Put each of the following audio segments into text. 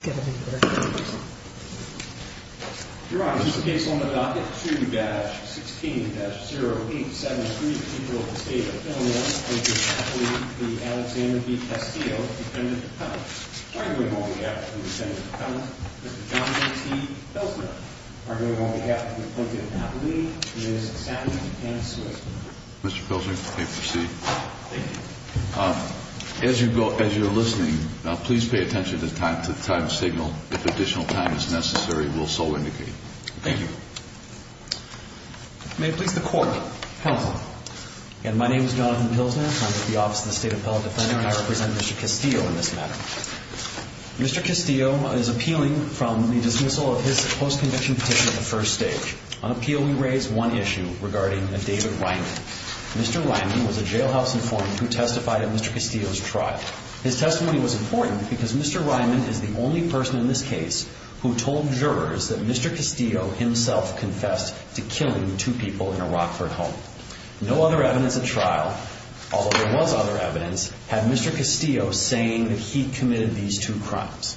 2-16-0873 People of the State of Philadelphia, Plinkett-Napolee, Alexander v. Castillo, Dependent of Pellissippi, arguing on behalf of the Dependent of Pellissippi, Mr. Jonathan T. Pilsner, arguing on behalf of the Plinkett-Napolee, Ms. Sandy A. Smith, Mr. Pilsner, you may proceed. Thank you. As you're listening, please pay attention to the time signal. If additional time is necessary, we'll so indicate. Thank you. May it please the Court. Counsel. My name is Jonathan Pilsner. I'm with the Office of the State Appellate Defender, and I represent Mr. Castillo in this matter. Mr. Castillo is appealing from the dismissal of his post-conviction petition at the first stage. On appeal, we raise one issue regarding a David Ryman. Mr. Ryman was a jailhouse informant who testified at Mr. Castillo's trial. His testimony was important because Mr. Ryman is the only person in this case who told jurors that Mr. Castillo himself confessed to killing two people in a Rockford home. No other evidence at trial, although there was other evidence, had Mr. Castillo saying that he committed these two crimes.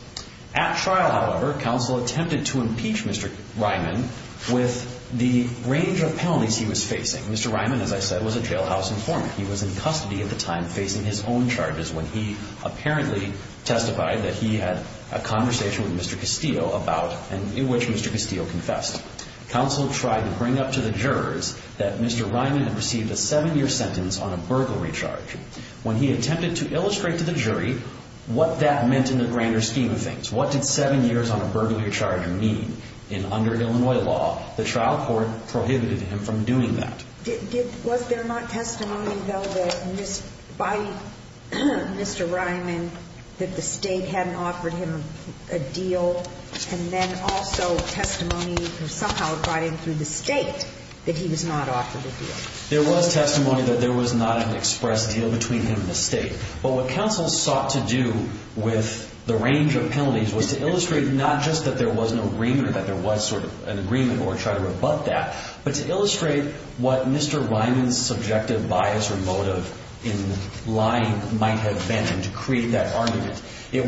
At trial, however, counsel attempted to impeach Mr. Ryman with the range of penalties he was facing. Mr. Ryman, as I said, was a jailhouse informant. He was in custody at the time facing his own charges when he apparently testified that he had a conversation with Mr. Castillo about and in which Mr. Castillo confessed. Counsel tried to bring up to the jurors that Mr. Ryman had received a seven-year sentence on a burglary charge. When he attempted to illustrate to the jury what that meant in the grander scheme of things, what did seven years on a burglary charge mean? And under Illinois law, the trial court prohibited him from doing that. Was there not testimony, though, by Mr. Ryman that the state hadn't offered him a deal? And then also testimony somehow brought in through the state that he was not offered a deal? There was testimony that there was not an express deal between him and the state. But what counsel sought to do with the range of penalties was to illustrate not just that there was an agreement or that there was sort of an agreement or try to rebut that, but to illustrate what Mr. Ryman's subjective bias or motive in lying might have been to create that argument. It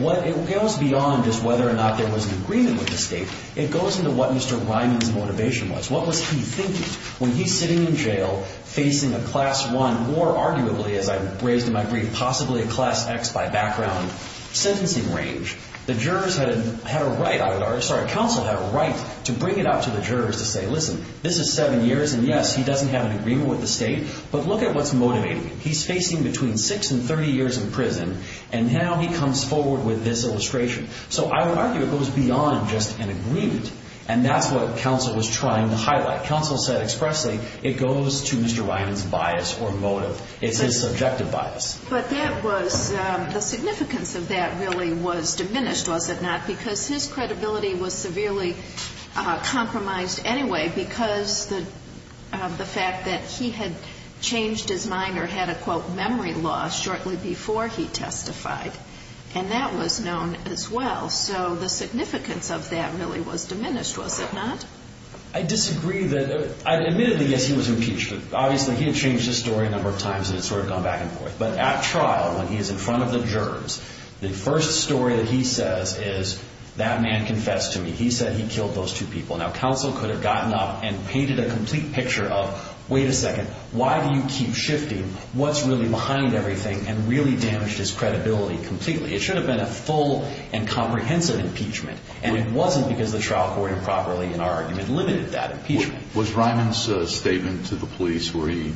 goes beyond just whether or not there was an agreement with the state. It goes into what Mr. Ryman's motivation was. What was he thinking? When he's sitting in jail facing a Class I or arguably, as I've raised in my brief, possibly a Class X by background sentencing range, the jurors had a right, I would argue, sorry, counsel had a right to bring it up to the jurors to say, listen, this is seven years, and yes, he doesn't have an agreement with the state, but look at what's motivating him. He's facing between six and 30 years in prison, and now he comes forward with this illustration. So I would argue it goes beyond just an agreement, and that's what counsel was trying to highlight. What counsel said expressly, it goes to Mr. Ryman's bias or motive. It's his subjective bias. But that was the significance of that really was diminished, was it not, because his credibility was severely compromised anyway because of the fact that he had changed his mind or had a, quote, memory loss shortly before he testified, and that was known as well. So the significance of that really was diminished, was it not? I disagree that, admittedly, yes, he was impeached. Obviously, he had changed his story a number of times, and it's sort of gone back and forth. But at trial, when he is in front of the jurors, the first story that he says is, that man confessed to me. He said he killed those two people. Now, counsel could have gotten up and painted a complete picture of, wait a second, why do you keep shifting what's really behind everything and really damaged his credibility completely. It should have been a full and comprehensive impeachment, and it wasn't because the trial court improperly, in our argument, limited that impeachment. Was Ryman's statement to the police where he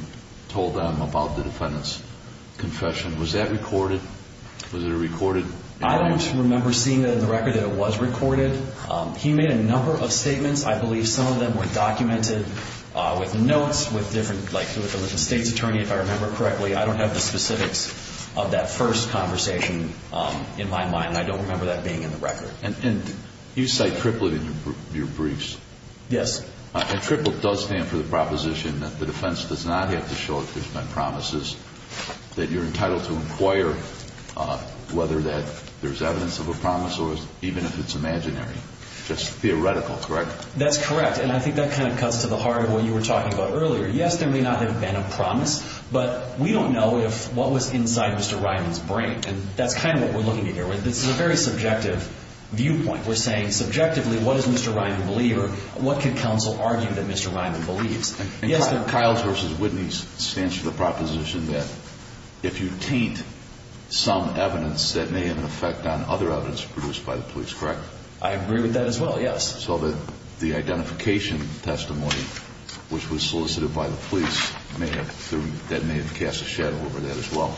told them about the defendant's confession, was that recorded? Was it recorded? I don't remember seeing it in the record that it was recorded. He made a number of statements. I believe some of them were documented with notes with different, like with the state's attorney, if I remember correctly. I don't have the specifics of that first conversation in my mind, and I don't remember that being in the record. And you cite Triplett in your briefs. Yes. And Triplett does stand for the proposition that the defense does not have to show if there's been promises, that you're entitled to inquire whether that there's evidence of a promise or even if it's imaginary. Just theoretical, correct? That's correct, and I think that kind of cuts to the heart of what you were talking about earlier. Yes, there may not have been a promise, but we don't know what was inside Mr. Ryman's brain, and that's kind of what we're looking at here. This is a very subjective viewpoint. We're saying subjectively, what does Mr. Ryman believe, or what could counsel argue that Mr. Ryman believes? And Kyles v. Whitney stands for the proposition that if you taint some evidence, that may have an effect on other evidence produced by the police, correct? I agree with that as well, yes. So the identification testimony, which was solicited by the police, that may have cast a shadow over that as well.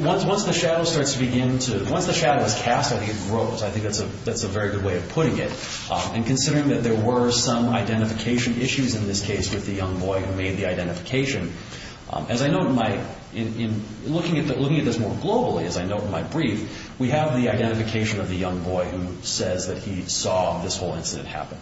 Once the shadow starts to begin to, once the shadow is cast, I think it grows. I think that's a very good way of putting it. And considering that there were some identification issues in this case with the young boy who made the identification, as I note in my, looking at this more globally, as I note in my brief, we have the identification of the young boy who says that he saw this whole incident happen.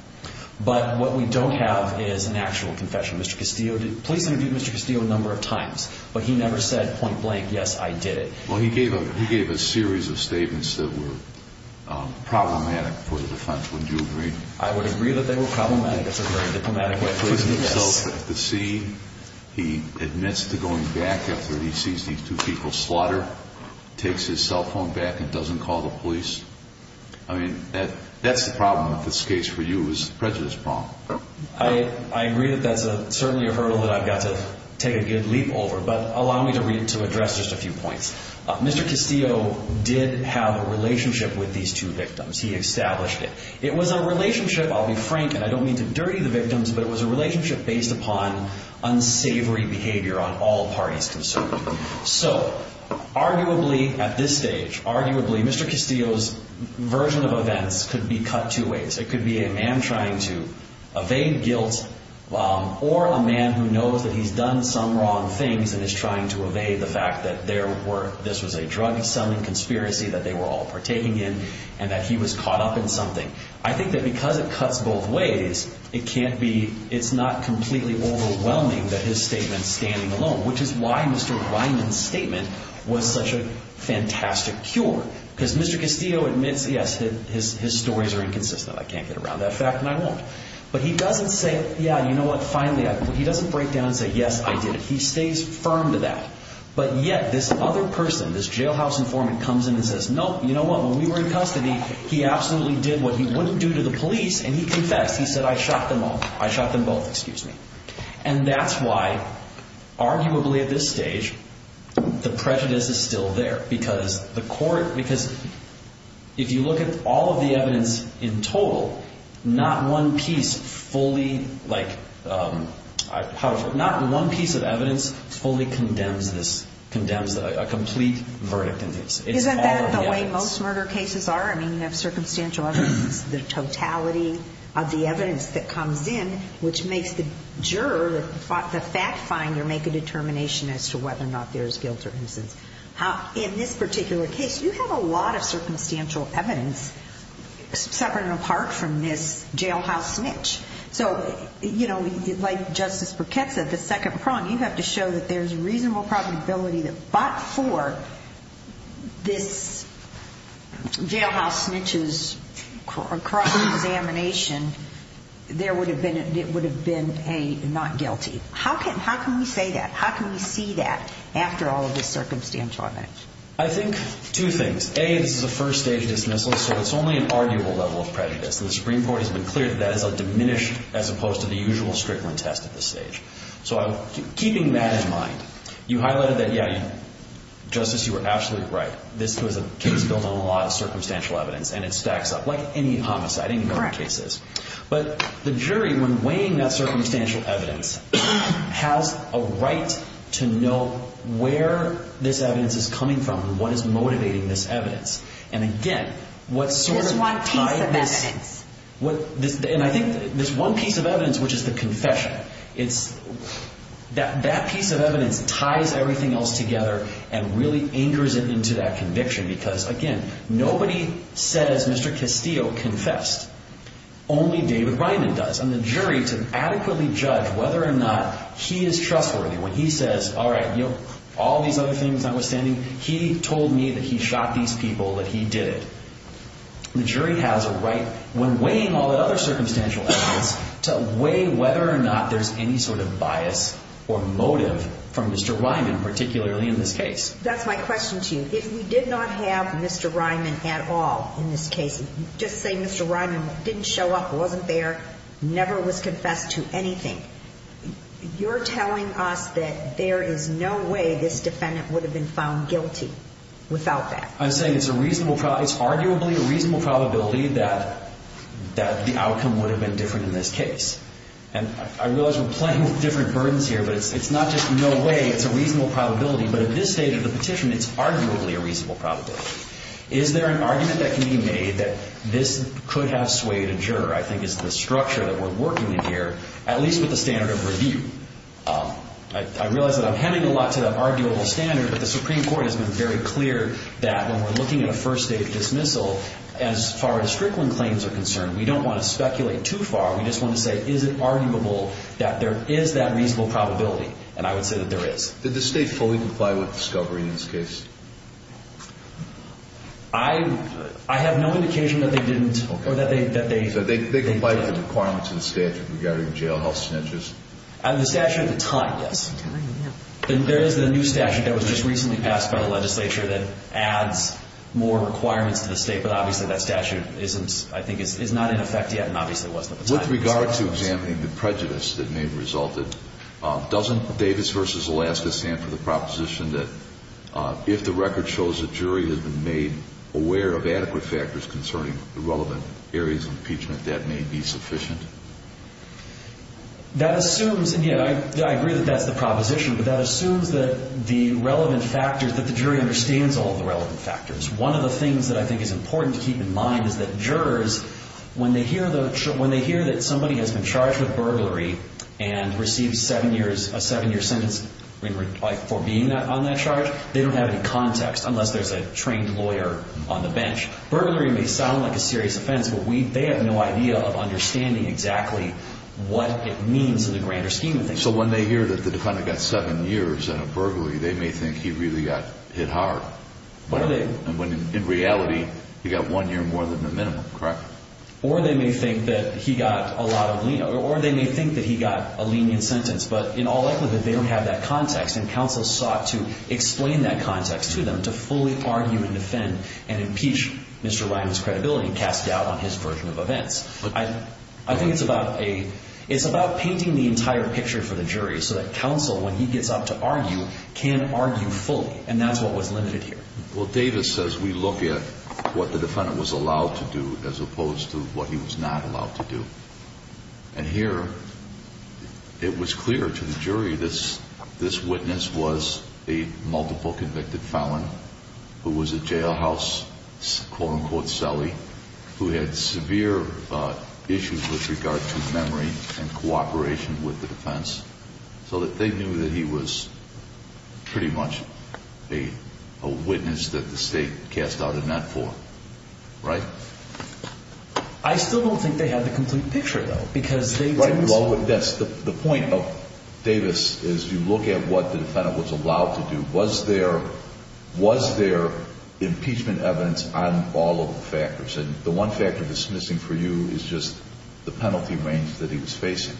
But what we don't have is an actual confession. Police interviewed Mr. Castillo a number of times, but he never said point blank, yes, I did it. Well, he gave a series of statements that were problematic for the defense. Would you agree? I would agree that they were problematic. That's a very diplomatic way of putting it, yes. He puts himself at the scene. He admits to going back after he sees these two people slaughter, takes his cell phone back and doesn't call the police. I mean, that's the problem with this case for you, is the prejudice problem. I agree that that's certainly a hurdle that I've got to take a good leap over, but allow me to address just a few points. Mr. Castillo did have a relationship with these two victims. He established it. It was a relationship, I'll be frank, and I don't mean to dirty the victims, but it was a relationship based upon unsavory behavior on all parties concerned. So, arguably, at this stage, arguably, Mr. Castillo's version of events could be cut two ways. It could be a man trying to evade guilt or a man who knows that he's done some wrong things and is trying to evade the fact that this was a drug-selling conspiracy that they were all partaking in and that he was caught up in something. I think that because it cuts both ways, it's not completely overwhelming that his statement's standing alone, which is why Mr. Weinman's statement was such a fantastic cure, because Mr. Castillo admits, yes, his stories are inconsistent. I can't get around that fact, and I won't. But he doesn't say, yeah, you know what, finally, he doesn't break down and say, yes, I did it. He stays firm to that. But yet this other person, this jailhouse informant, comes in and says, no, you know what, when we were in custody, he absolutely did what he wouldn't do to the police, and he confessed. He said, I shot them both. And that's why, arguably, at this stage, the prejudice is still there, because if you look at all of the evidence in total, not one piece fully condemns this, condemns a complete verdict in this. Isn't that the way most murder cases are? I mean, you have circumstantial evidence, the totality of the evidence that comes in, which makes the juror, the fact finder, make a determination as to whether or not there is guilt or innocence. In this particular case, you have a lot of circumstantial evidence, separate and apart from this jailhouse snitch. So, you know, like Justice Burkett said, the second prong, you have to show that there's reasonable probability that but for this jailhouse snitch's cross-examination, there would have been a not guilty. How can we say that? How can we see that after all of this circumstantial evidence? I think two things. A, this is a first-stage dismissal, so it's only an arguable level of prejudice. The Supreme Court has been clear that that is a diminished, as opposed to the usual Strickland test at this stage. So keeping that in mind, you highlighted that, yeah, Justice, you were absolutely right. This was a case built on a lot of circumstantial evidence, and it stacks up, like any homicide, any number of cases. But the jury, when weighing that circumstantial evidence, has a right to know where this evidence is coming from and what is motivating this evidence. And again, what sort of tied this- This one piece of evidence. And I think this one piece of evidence, which is the confession, that piece of evidence ties everything else together and really anchors it into that conviction because, again, nobody said, as Mr. Castillo confessed, only David Ryman does. And the jury, to adequately judge whether or not he is trustworthy when he says, all right, you know, all these other things notwithstanding, he told me that he shot these people, that he did it. The jury has a right, when weighing all that other circumstantial evidence, to weigh whether or not there's any sort of bias or motive from Mr. Ryman, particularly in this case. That's my question to you. If we did not have Mr. Ryman at all in this case, just say Mr. Ryman didn't show up, wasn't there, never was confessed to anything, you're telling us that there is no way this defendant would have been found guilty without that? I'm saying it's arguably a reasonable probability that the outcome would have been different in this case. And I realize we're playing with different burdens here, but it's not just no way, it's a reasonable probability. But at this stage of the petition, it's arguably a reasonable probability. Is there an argument that can be made that this could have swayed a juror? I think it's the structure that we're working in here, at least with the standard of review. I realize that I'm hemming a lot to that arguable standard, but the Supreme Court has been very clear that when we're looking at a first-stage dismissal, as far as Strickland claims are concerned, we don't want to speculate too far. We just want to say, is it arguable that there is that reasonable probability? And I would say that there is. Did the State fully comply with the discovery in this case? I have no indication that they didn't or that they didn't. So they complied with the requirements of the statute regarding jailhouse snitches? The statute at the time, yes. There is a new statute that was just recently passed by the legislature that adds more requirements to the State, but obviously that statute, I think, is not in effect yet and obviously wasn't at the time. With regard to examining the prejudice that may have resulted, doesn't Davis v. Alaska stand for the proposition that if the record shows a jury has been made aware of adequate factors concerning the relevant areas of impeachment, that may be sufficient? That assumes, and I agree that that's the proposition, but that assumes that the relevant factors, that the jury understands all the relevant factors. One of the things that I think is important to keep in mind is that jurors, when they hear that somebody has been charged with burglary and received a seven-year sentence for being on that charge, they don't have any context unless there's a trained lawyer on the bench. Burglary may sound like a serious offense, but they have no idea of understanding exactly what it means in the grander scheme of things. So when they hear that the defendant got seven years in a burglary, they may think he really got hit hard. In reality, he got one year more than the minimum, correct? Or they may think that he got a lenient sentence, but in all likelihood, they don't have that context, and counsel sought to explain that context to them to fully argue and defend and impeach Mr. Ryan's credibility and cast doubt on his version of events. I think it's about painting the entire picture for the jury so that counsel, when he gets up to argue, can argue fully, and that's what was limited here. Well, Davis says we look at what the defendant was allowed to do as opposed to what he was not allowed to do. And here, it was clear to the jury this witness was a multiple convicted felon who was a jailhouse, quote-unquote, celly, who had severe issues with regard to memory and cooperation with the defense so that they knew that he was pretty much a witness that the state cast doubt in that court, right? I still don't think they had the complete picture, though, because they didn't see. Right. Well, the point of Davis is you look at what the defendant was allowed to do. Was there impeachment evidence on all of the factors? And the one factor that's missing for you is just the penalty range that he was facing.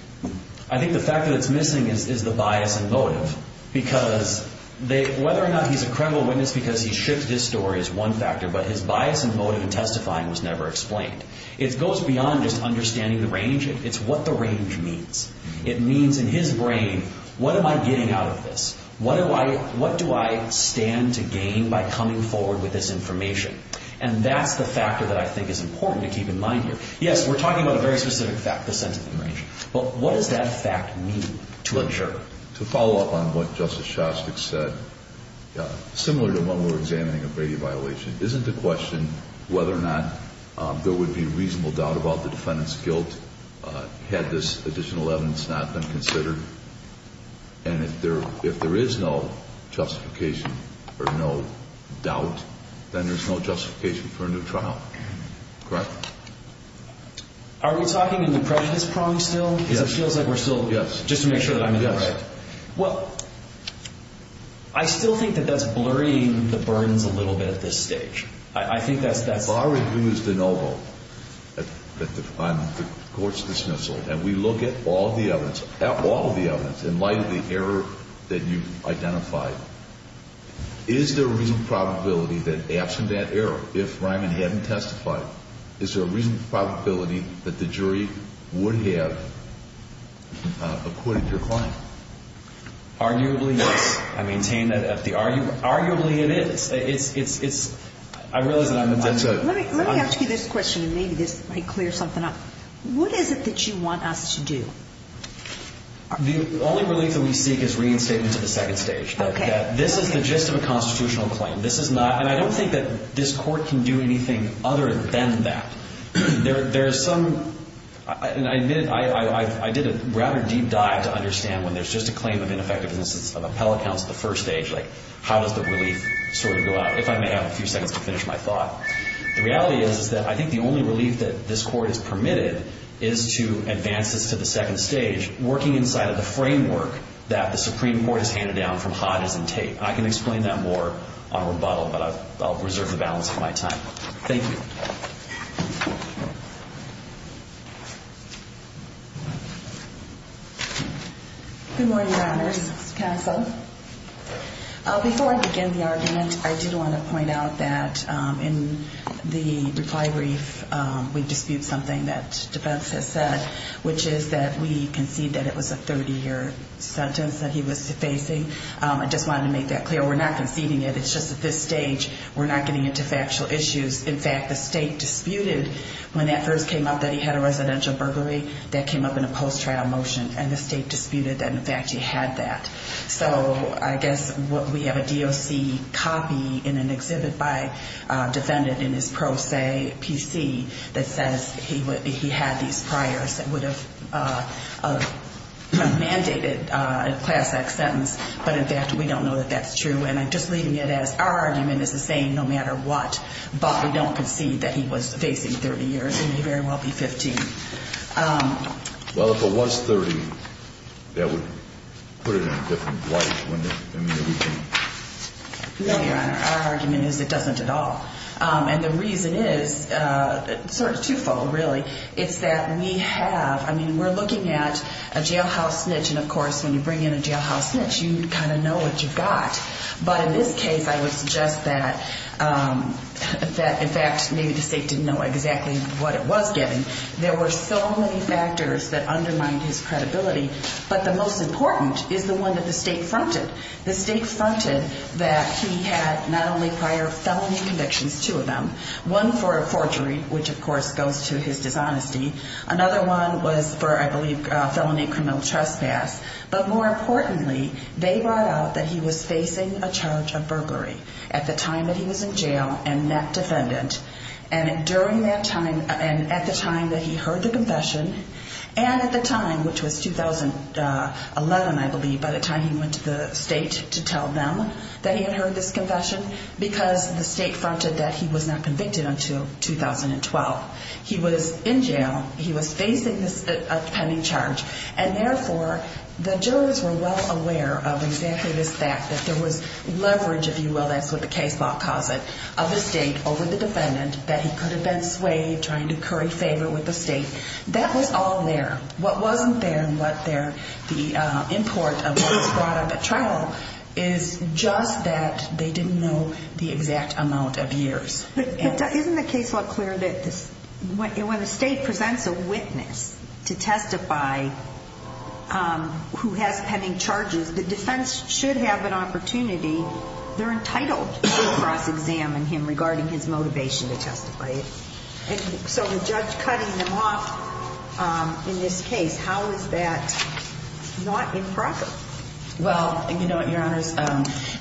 I think the factor that's missing is the bias and motive because whether or not he's a credible witness because he shipped his story is one factor, but his bias and motive in testifying was never explained. It goes beyond just understanding the range. It's what the range means. It means in his brain, what am I getting out of this? What do I stand to gain by coming forward with this information? And that's the factor that I think is important to keep in mind here. Yes, we're talking about a very specific fact, the sentencing range. Well, what does that fact mean to ensure? To follow up on what Justice Shostak said, similar to when we're examining a Brady violation, isn't the question whether or not there would be reasonable doubt about the defendant's guilt had this additional evidence not been considered? And if there is no justification or no doubt, then there's no justification for a new trial. Correct? Are we talking in the prejudice prong still? Yes. Because it feels like we're still just to make sure that I'm in the right. Yes. Well, I still think that that's blurring the burdens a little bit at this stage. I think that's— If our review is de novo on the court's dismissal and we look at all of the evidence in light of the error that you've identified, is there a reasonable probability that absent that error, if Ryman hadn't testified, is there a reasonable probability that the jury would have acquitted your client? Arguably, yes. I maintain that at the—arguably, it is. It's—I realize that I'm— Let me ask you this question, and maybe this might clear something up. What is it that you want us to do? The only relief that we seek is reinstatement to the second stage. This is the gist of a constitutional claim. This is not—and I don't think that this court can do anything other than that. There is some—and I admit I did a rather deep dive to understand when there's just a claim of ineffectiveness of appellate counts at the first stage, like how does the relief sort of go out, if I may have a few seconds to finish my thought. The reality is that I think the only relief that this court has permitted is to advance this to the second stage, working inside of the framework that the Supreme Court has handed down from Hodges and Tate. I can explain that more on rebuttal, but I'll reserve the balance of my time. Thank you. Good morning, Your Honors. Counsel. Before I begin the argument, I did want to point out that in the reply brief, we dispute something that defense has said, which is that we concede that it was a 30-year sentence that he was facing. I just wanted to make that clear. We're not conceding it. It's just at this stage, we're not getting into factual issues. In fact, the state disputed when that first came up that he had a residential burglary. That came up in a post-trial motion, and the state disputed that, in fact, he had that. So I guess we have a DOC copy in an exhibit by a defendant in his pro se PC that says he had these priors that would have mandated a class-X sentence. But, in fact, we don't know that that's true. And I'm just leaving it as our argument is the same no matter what. But we don't concede that he was facing 30 years, and he very well be 15. Well, if it was 30, that would put it in a different light, wouldn't it? No, Your Honor. Our argument is it doesn't at all. And the reason is sort of twofold, really. It's that we have ñ I mean, we're looking at a jailhouse snitch, and, of course, when you bring in a jailhouse snitch, you kind of know what you've got. But in this case, I would suggest that, in fact, maybe the state didn't know exactly what it was getting. There were so many factors that undermined his credibility. But the most important is the one that the state fronted. The state fronted that he had not only prior felony convictions, two of them, one for a forgery, which, of course, goes to his dishonesty. Another one was for, I believe, felony criminal trespass. But more importantly, they brought out that he was facing a charge of burglary at the time that he was in jail and that defendant. And at the time that he heard the confession, and at the time, which was 2011, I believe, by the time he went to the state to tell them that he had heard this confession, because the state fronted that he was not convicted until 2012. He was in jail. He was facing a pending charge. And, therefore, the jurors were well aware of exactly this fact, that there was leverage, if you will, that's what the case law calls it, of the state over the defendant, that he could have been swayed, trying to curry favor with the state. That was all there. What wasn't there and what there, the import of what was brought up at trial, is just that they didn't know the exact amount of years. But isn't the case law clear that when the state presents a witness to testify who has pending charges, the defense should have an opportunity, they're entitled to cross-examine him regarding his motivation to testify. So the judge cutting him off in this case, how is that not improper? Well, you know what, Your Honors,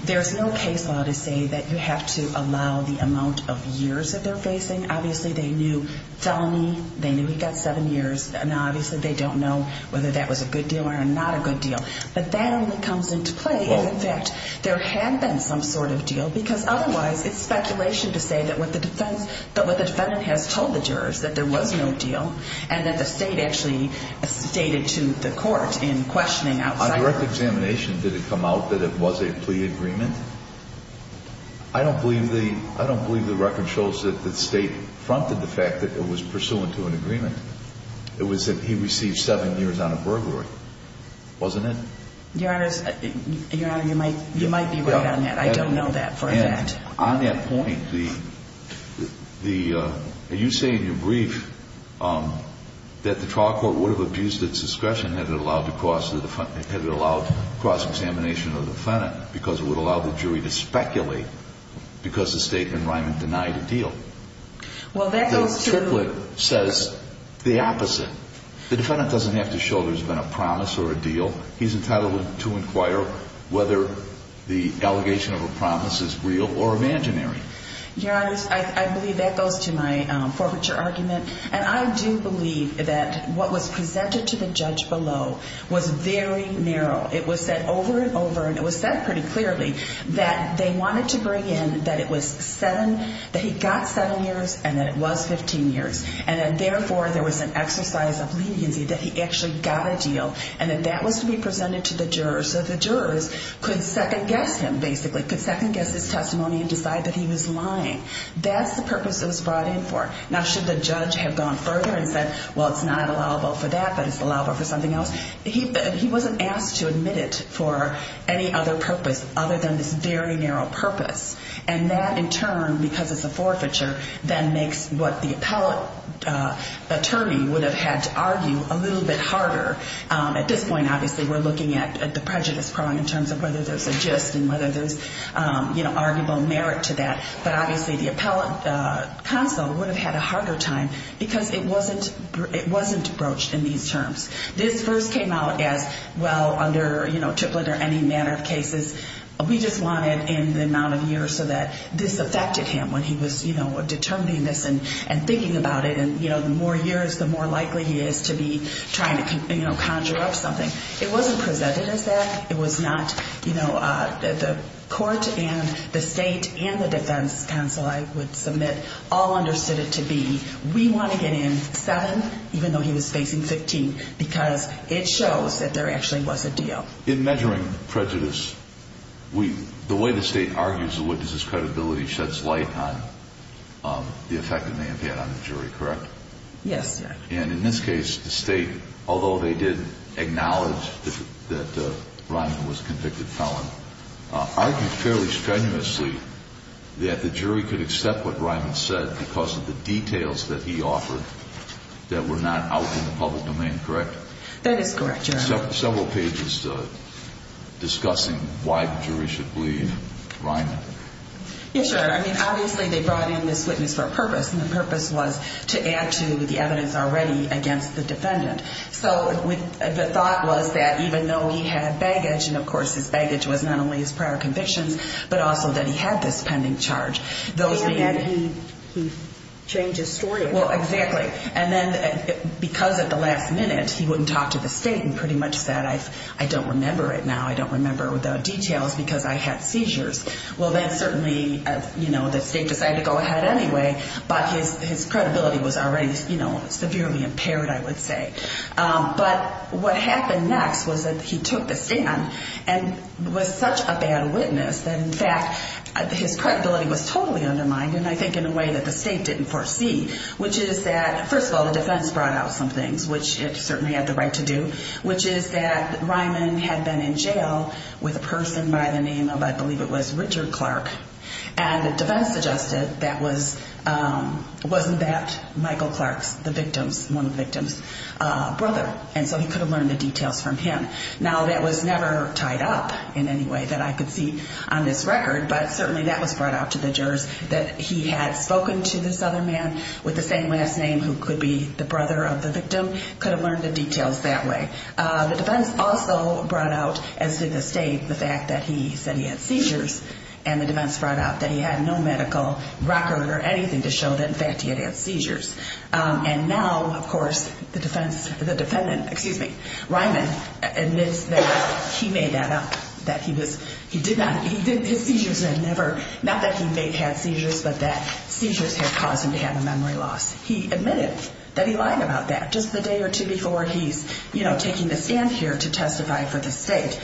there's no case law to say that you have to allow the amount of years that they're facing. Obviously, they knew felony, they knew he got seven years. Now, obviously, they don't know whether that was a good deal or not a good deal. But that only comes into play. In fact, there had been some sort of deal, because otherwise it's speculation to say that what the defendant has told the jurors, that there was no deal and that the state actually stated to the court in questioning outside. On direct examination, did it come out that it was a plea agreement? I don't believe the record shows that the state fronted the fact that it was pursuant to an agreement. It was that he received seven years on a burglary, wasn't it? Your Honors, Your Honor, you might be right on that. I don't know that for a fact. On that point, are you saying in your brief that the trial court would have abused its discretion had it allowed cross-examination of the defendant, because it would allow the jury to speculate because the state and Ryman denied a deal? The triplet says the opposite. The defendant doesn't have to show there's been a promise or a deal. He's entitled to inquire whether the allegation of a promise is real or imaginary. Your Honors, I believe that goes to my forfeiture argument, and I do believe that what was presented to the judge below was very narrow. It was said over and over, and it was said pretty clearly, that they wanted to bring in that it was seven, that he got seven years and that it was 15 years, and that therefore there was an exercise of leniency that he actually got a deal and that that was to be presented to the jurors so the jurors could second-guess him, basically, could second-guess his testimony and decide that he was lying. That's the purpose it was brought in for. Now, should the judge have gone further and said, well, it's not allowable for that, but it's allowable for something else? He wasn't asked to admit it for any other purpose other than this very narrow purpose, and that in turn, because it's a forfeiture, then makes what the appellate attorney would have had to argue a little bit harder. At this point, obviously, we're looking at the prejudice prong in terms of whether there's a gist and whether there's arguable merit to that, but obviously the appellate counsel would have had a harder time because it wasn't broached in these terms. This first came out as, well, under Triplett or any manner of cases, we just want it in the amount of years so that this affected him when he was determining this and thinking about it, and the more years, the more likely he is to be trying to conjure up something. It wasn't presented as that. It was not. The court and the state and the defense counsel, I would submit, all understood it to be, we want to get in seven, even though he was facing 15, because it shows that there actually was a deal. In measuring prejudice, the way the state argues, the witness's credibility sheds light on the effect it may have had on the jury, correct? Yes, Your Honor. And in this case, the state, although they did acknowledge that Ryman was a convicted felon, argued fairly strenuously that the jury could accept what Ryman said because of the details that he offered that were not out in the public domain, correct? That is correct, Your Honor. We have several pages discussing why the jury should believe Ryman. Yes, Your Honor. I mean, obviously they brought in this witness for a purpose, and the purpose was to add to the evidence already against the defendant. So the thought was that even though he had baggage, and of course his baggage was not only his prior convictions, but also that he had this pending charge. And he changed his story. Well, exactly. And then because at the last minute he wouldn't talk to the state and pretty much said, I don't remember it now, I don't remember the details because I had seizures. Well, then certainly the state decided to go ahead anyway, but his credibility was already severely impaired, I would say. But what happened next was that he took the stand and was such a bad witness that in fact his credibility was totally undermined, and I think in a way that the state didn't foresee, which is that, first of all, the defense brought out some things, which it certainly had the right to do, which is that Ryman had been in jail with a person by the name of, I believe it was Richard Clark. And the defense suggested that wasn't that Michael Clark's, the victim's, one of the victim's brother, and so he could have learned the details from him. Now, that was never tied up in any way that I could see on this record, but certainly that was brought out to the jurors that he had spoken to this other man with the same last name who could be the brother of the victim, could have learned the details that way. The defense also brought out, as did the state, the fact that he said he had seizures, and the defense brought out that he had no medical record or anything to show that in fact he had had seizures. And now, of course, the defendant, excuse me, Ryman, admits that he made that up, that he did not, his seizures had never, not that he may have had seizures, but that seizures had caused him to have a memory loss. He admitted that he lied about that just the day or two before he's, you know, taking the stand here to testify for the state.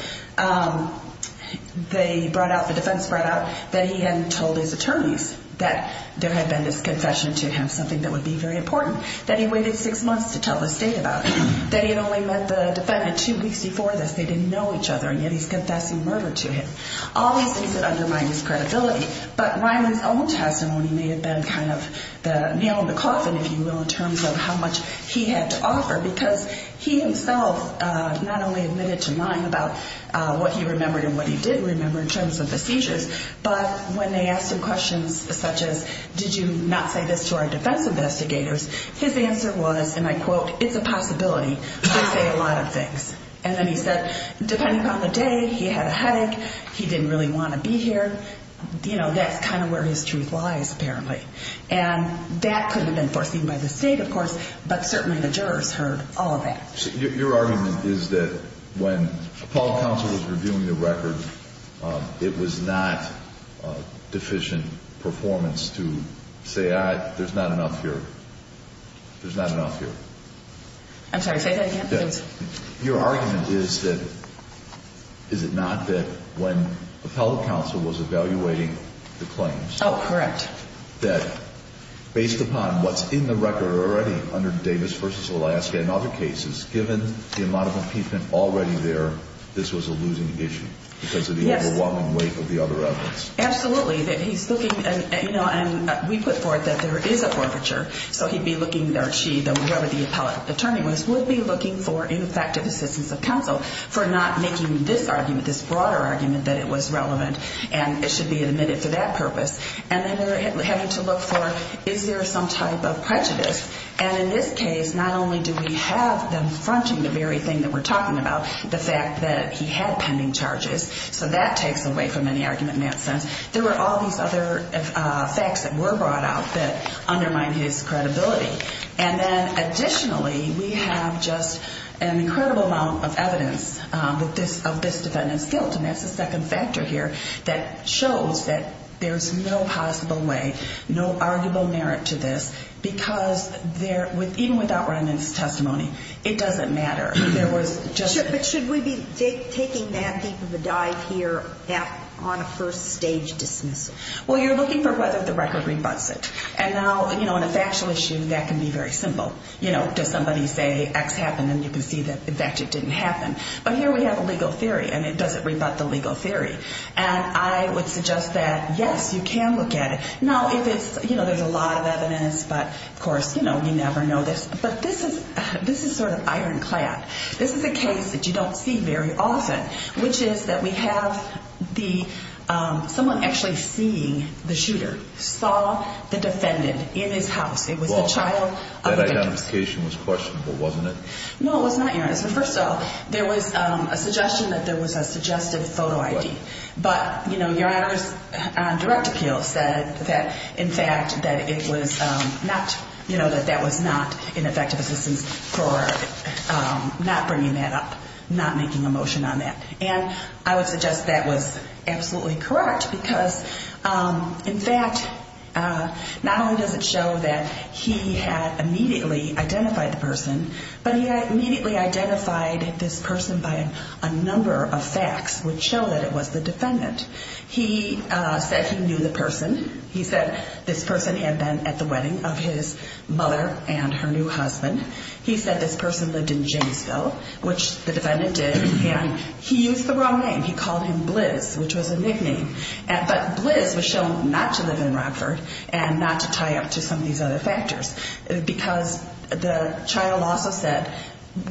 They brought out, the defense brought out that he hadn't told his attorneys that there had been this confession to him, something that would be very important, that he waited six months to tell the state about it, that he had only met the defendant two weeks before this, they didn't know each other, and yet he's confessing murder to him. All these things that undermine his credibility. But Ryman's own testimony may have been kind of the nail in the coffin, if you will, in terms of how much he had to offer, because he himself not only admitted to lying about what he remembered and what he did remember in terms of the seizures, but when they asked him questions such as, did you not say this to our defense investigators, his answer was, and I quote, it's a possibility, they say a lot of things. And then he said, depending on the day, he had a headache, he didn't really want to be here, you know, that's kind of where his truth lies, apparently. And that could have been foreseen by the state, of course, but certainly the jurors heard all of that. So your argument is that when Paul Counsel was reviewing the record, it was not deficient performance to say, all right, there's not enough here. There's not enough here. I'm sorry, say that again, please. Your argument is that, is it not that when Appellate Counsel was evaluating the claims. Oh, correct. That based upon what's in the record already under Davis v. Alaska and other cases, given the amount of impeachment already there, this was a losing issue because of the overwhelming weight of the other evidence. Absolutely, that he's looking, you know, and we put forth that there is a forfeiture, so he'd be looking, or she, whoever the appellate attorney was, would be looking for ineffective assistance of counsel for not making this argument, this broader argument that it was relevant and it should be admitted for that purpose. And then they're having to look for, is there some type of prejudice? And in this case, not only do we have them fronting the very thing that we're talking about, the fact that he had pending charges, so that takes away from any argument in that sense. There were all these other facts that were brought out that undermined his credibility. And then additionally, we have just an incredible amount of evidence of this defendant's guilt, and that's the second factor here that shows that there's no possible way, no arguable merit to this because even without remnant's testimony, it doesn't matter. But should we be taking that deep of a dive here on a first stage dismissal? Well, you're looking for whether the record rebuts it. And now, you know, in a factual issue, that can be very simple. You know, does somebody say X happened, and you can see that, in fact, it didn't happen. But here we have a legal theory, and it doesn't rebut the legal theory. And I would suggest that, yes, you can look at it. Now, if it's, you know, there's a lot of evidence, but, of course, you know, you never know this. But this is sort of ironclad. This is a case that you don't see very often, which is that we have someone actually seeing the shooter, saw the defendant in his house. It was the child of a victim. Well, that identification was questionable, wasn't it? No, it was not, Your Honor. So, first of all, there was a suggestion that there was a suggested photo ID. But, you know, Your Honor's direct appeal said that, in fact, that it was not, you know, that that was not an effective assistance for not bringing that up, not making a motion on that. And I would suggest that was absolutely correct because, in fact, not only does it show that he had immediately identified the person, but he immediately identified this person by a number of facts which show that it was the defendant. He said he knew the person. He said this person had been at the wedding of his mother and her new husband. He said this person lived in Jamesville, which the defendant did. And he used the wrong name. He called him Blizz, which was a nickname. But Blizz was shown not to live in Rockford and not to tie up to some of these other factors because the child also said,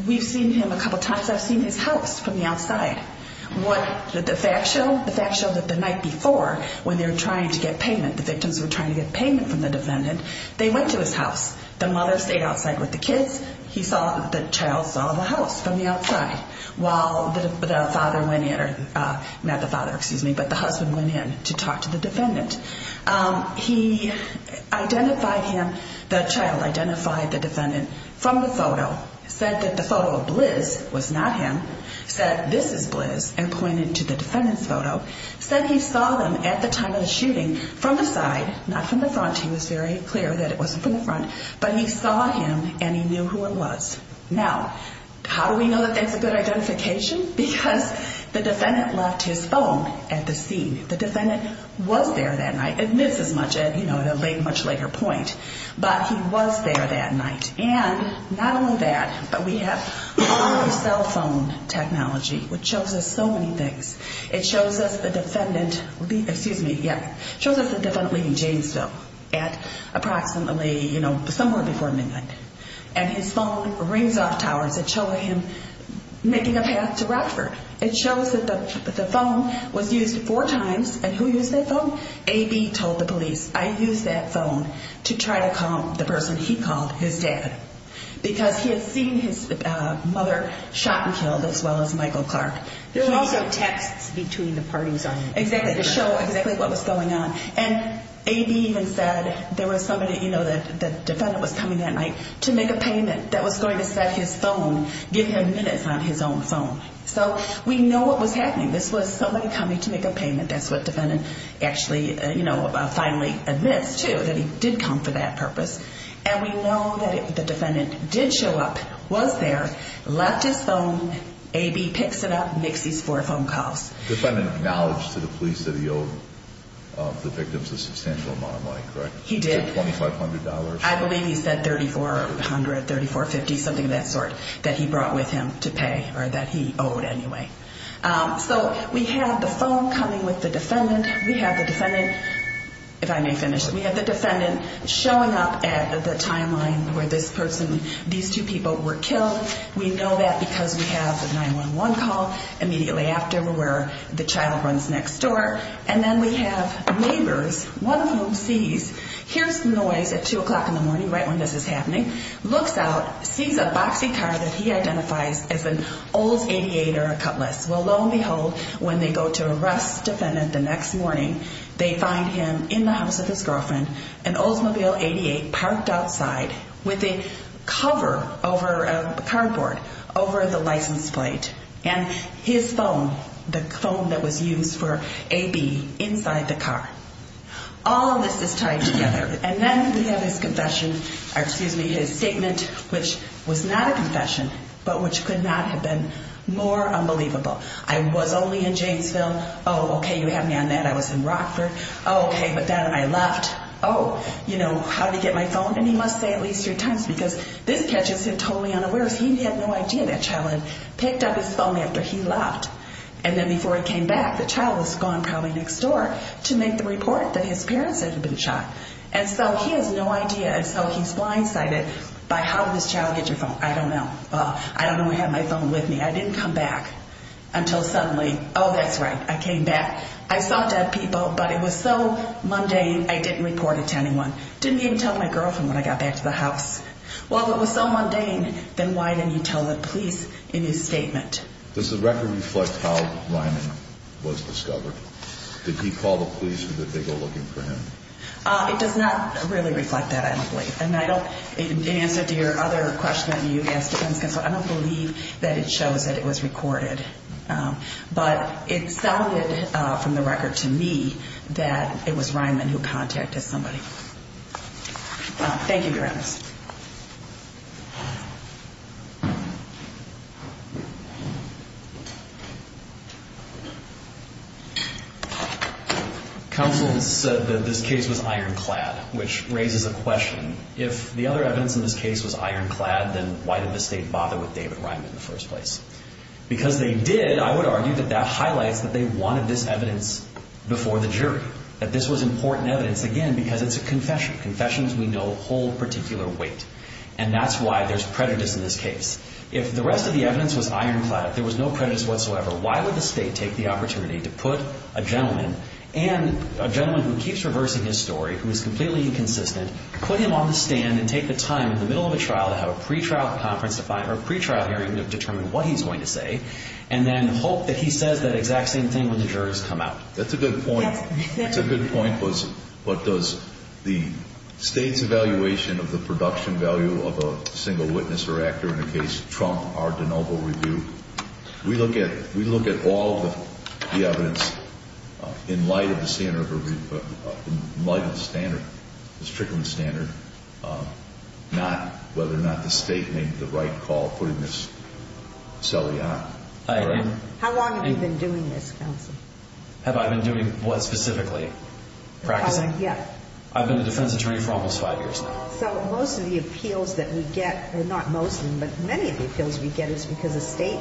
we've seen him a couple times. I've seen his house from the outside. What did the facts show? The facts showed that the night before, when they were trying to get payment, the victims were trying to get payment from the defendant, they went to his house. The mother stayed outside with the kids. He saw, the child saw the house from the outside while the father went in, or not the father, excuse me, but the husband went in to talk to the defendant. He identified him, the child identified the defendant from the photo, said that the photo of Blizz was not him, said this is Blizz, and pointed to the defendant's photo, said he saw them at the time of the shooting from the side, not from the front. He was very clear that it wasn't from the front. But he saw him and he knew who it was. Now, how do we know that that's a good identification? Because the defendant left his phone at the scene. The defendant was there that night. It missed as much at a much later point. But he was there that night. And not only that, but we have cell phone technology, which shows us so many things. It shows us the defendant leaving Janesville at approximately, you know, somewhere before midnight. And his phone rings off towers that show him making a path to Rockford. It shows that the phone was used four times. And who used that phone? A.B. told the police, I used that phone to try to call the person he called, his dad, because he had seen his mother shot and killed as well as Michael Clark. There were also texts between the parties on it. Exactly, to show exactly what was going on. And A.B. even said there was somebody, you know, the defendant was coming that night to make a payment that was going to set his phone, give him minutes on his own phone. So we know what was happening. This was somebody coming to make a payment. That's what the defendant actually, you know, finally admits, too, that he did come for that purpose. And we know that the defendant did show up, was there, left his phone. A.B. picks it up, makes these four phone calls. The defendant acknowledged to the police that he owed the victims a substantial amount of money, correct? He did. He owed $2,500. I believe he said $3,400, $3,450, something of that sort that he brought with him to pay or that he owed anyway. So we have the phone coming with the defendant. We have the defendant, if I may finish, we have the defendant showing up at the timeline where this person, these two people were killed. We know that because we have the 911 call immediately after where the child runs next door. And then we have neighbors, one of whom sees, hears noise at 2 o'clock in the morning, right when this is happening, looks out, sees a boxy car that he identifies as an Olds 88 or a Cutlass. Well, lo and behold, when they go to arrest the defendant the next morning, they find him in the house of his girlfriend, an Oldsmobile 88, parked outside with a cover over a cardboard over the license plate, and his phone, the phone that was used for A.B., inside the car. All of this is tied together. And then we have his confession, or excuse me, his statement, which was not a confession but which could not have been more unbelievable. I was only in Janesville. Oh, okay, you had me on that. I was in Rockford. Oh, okay, but then I left. Oh, you know, how did he get my phone? And he must say at least three times because this catches him totally unawares. He had no idea that child had picked up his phone after he left. And then before he came back, the child was gone probably next door to make the report that his parents had been shot. And so he has no idea. And so he's blindsided by how did this child get your phone. I don't know. I don't even have my phone with me. I didn't come back until suddenly, oh, that's right, I came back. I saw dead people, but it was so mundane I didn't report it to anyone. Didn't even tell my girlfriend when I got back to the house. Well, if it was so mundane, then why didn't he tell the police in his statement? Does the record reflect how Ryman was discovered? Did he call the police or did they go looking for him? It does not really reflect that, I don't believe. And in answer to your other question that you asked, I don't believe that it shows that it was recorded. But it sounded from the record to me that it was Ryman who contacted somebody. Thank you, Your Honor. Next. Counsel said that this case was ironclad, which raises a question. If the other evidence in this case was ironclad, then why did the state bother with David Ryman in the first place? Because they did, I would argue, that that highlights that they wanted this evidence before the jury, Confessions we know hold particular weight. And that's why there's prejudice in this case. If the rest of the evidence was ironclad, if there was no prejudice whatsoever, why would the state take the opportunity to put a gentleman, and a gentleman who keeps reversing his story, who is completely inconsistent, put him on the stand and take the time in the middle of a trial to have a pretrial hearing to determine what he's going to say and then hope that he says that exact same thing when the jurors come out? That's a good point. That's a good point. But does the state's evaluation of the production value of a single witness or actor in a case trump our de novo review? We look at all the evidence in light of the standard, in light of the standard, the Strickland standard, not whether or not the state made the right call putting this cellie on. How long have you been doing this, Counsel? Have I been doing what specifically? Practicing? Yeah. I've been a defense attorney for almost five years now. So most of the appeals that we get, or not most of them, but many of the appeals we get is because the state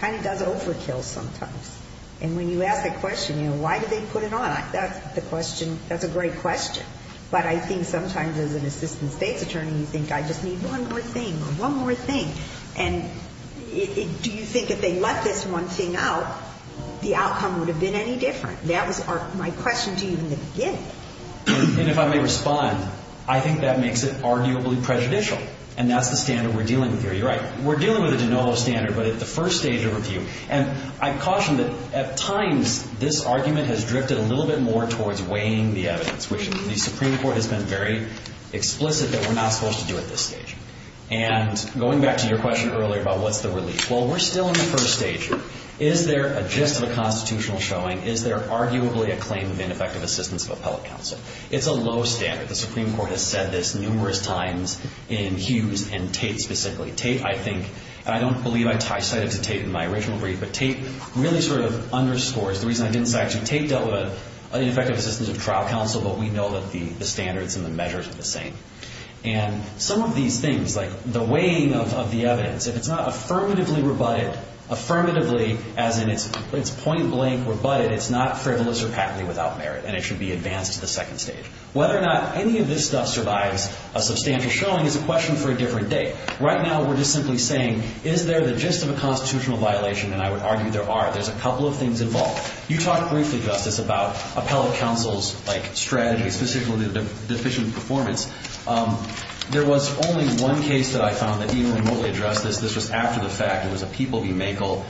kind of does overkill sometimes. And when you ask that question, you know, why did they put it on, that's a great question. But I think sometimes as an assistant state's attorney, you think I just need one more thing or one more thing. And do you think if they let this one thing out, the outcome would have been any different? That was my question to you in the beginning. And if I may respond, I think that makes it arguably prejudicial. And that's the standard we're dealing with here. You're right. We're dealing with a de novo standard, but at the first stage of review. And I caution that at times this argument has drifted a little bit more towards weighing the evidence, which the Supreme Court has been very explicit that we're not supposed to do at this stage. And going back to your question earlier about what's the relief, well, we're still in the first stage here. Is there a gist of a constitutional showing? Is there arguably a claim of ineffective assistance of appellate counsel? It's a low standard. The Supreme Court has said this numerous times in Hughes and Tate specifically. Tate, I think, and I don't believe I cited Tate in my original brief, but Tate really sort of underscores the reason I didn't cite you. Tate dealt with ineffective assistance of trial counsel, but we know that the standards and the measures are the same. And some of these things, like the weighing of the evidence, if it's not affirmatively rebutted, affirmatively as in it's point blank rebutted, it's not frivolous or patently without merit, and it should be advanced to the second stage. Whether or not any of this stuff survives a substantial showing is a question for a different date. Right now we're just simply saying, is there the gist of a constitutional violation? And I would argue there are. There's a couple of things involved. You talked briefly, Justice, about appellate counsel's strategy, and specifically the deficient performance. There was only one case that I found that even remotely addressed this. This was after the fact. It was a People v. Makel.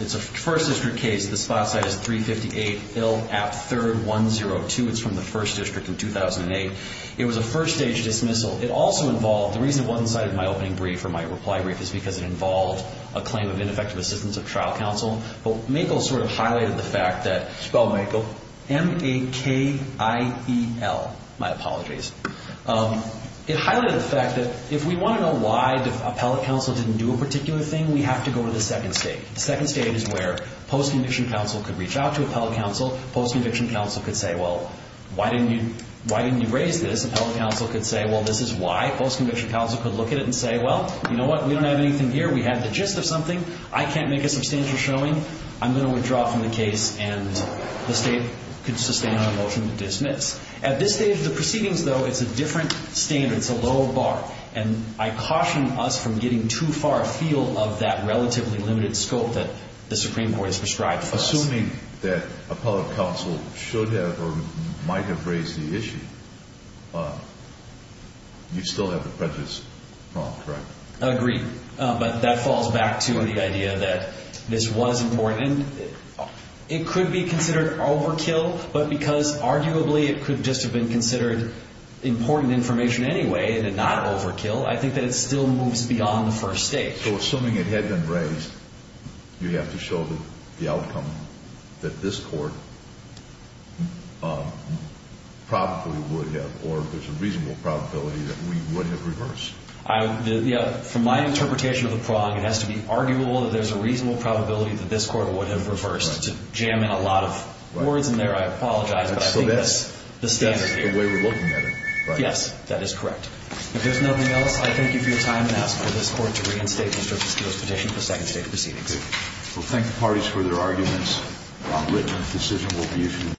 It's a First District case. The spot site is 358 L. App. 3rd, 102. It's from the First District in 2008. It was a first-stage dismissal. It also involved the reason it wasn't cited in my opening brief or my reply brief is because it involved a claim of ineffective assistance of trial counsel. But Makel sort of highlighted the fact that- Spell Makel. So M-A-K-I-E-L. My apologies. It highlighted the fact that if we want to know why appellate counsel didn't do a particular thing, we have to go to the second stage. The second stage is where post-conviction counsel could reach out to appellate counsel. Post-conviction counsel could say, well, why didn't you raise this? Appellate counsel could say, well, this is why. Post-conviction counsel could look at it and say, well, you know what? We don't have anything here. We have the gist of something. I can't make a substantial showing. I'm going to withdraw from the case, and the state could sustain a motion to dismiss. At this stage, the proceedings, though, it's a different standard. It's a lower bar. And I caution us from getting too far afield of that relatively limited scope that the Supreme Court has prescribed for us. Assuming that appellate counsel should have or might have raised the issue, you still have the prejudice problem, correct? Agreed. But that falls back to the idea that this was important. It could be considered overkill, but because arguably it could just have been considered important information anyway and not overkill, I think that it still moves beyond the first stage. So assuming it had been raised, you have to show the outcome that this Court probably would have or there's a reasonable probability that we would have reversed. From my interpretation of the prong, it has to be arguable that there's a reasonable probability that this Court would have reversed. To jam in a lot of words in there, I apologize. But I think that's the standard here. That's the way we're looking at it, right? Yes, that is correct. If there's nothing else, I thank you for your time and ask for this Court to reinstate Mr. Fitzgerald's petition for second stage proceedings. We'll thank the parties for their arguments. A written decision will be issued.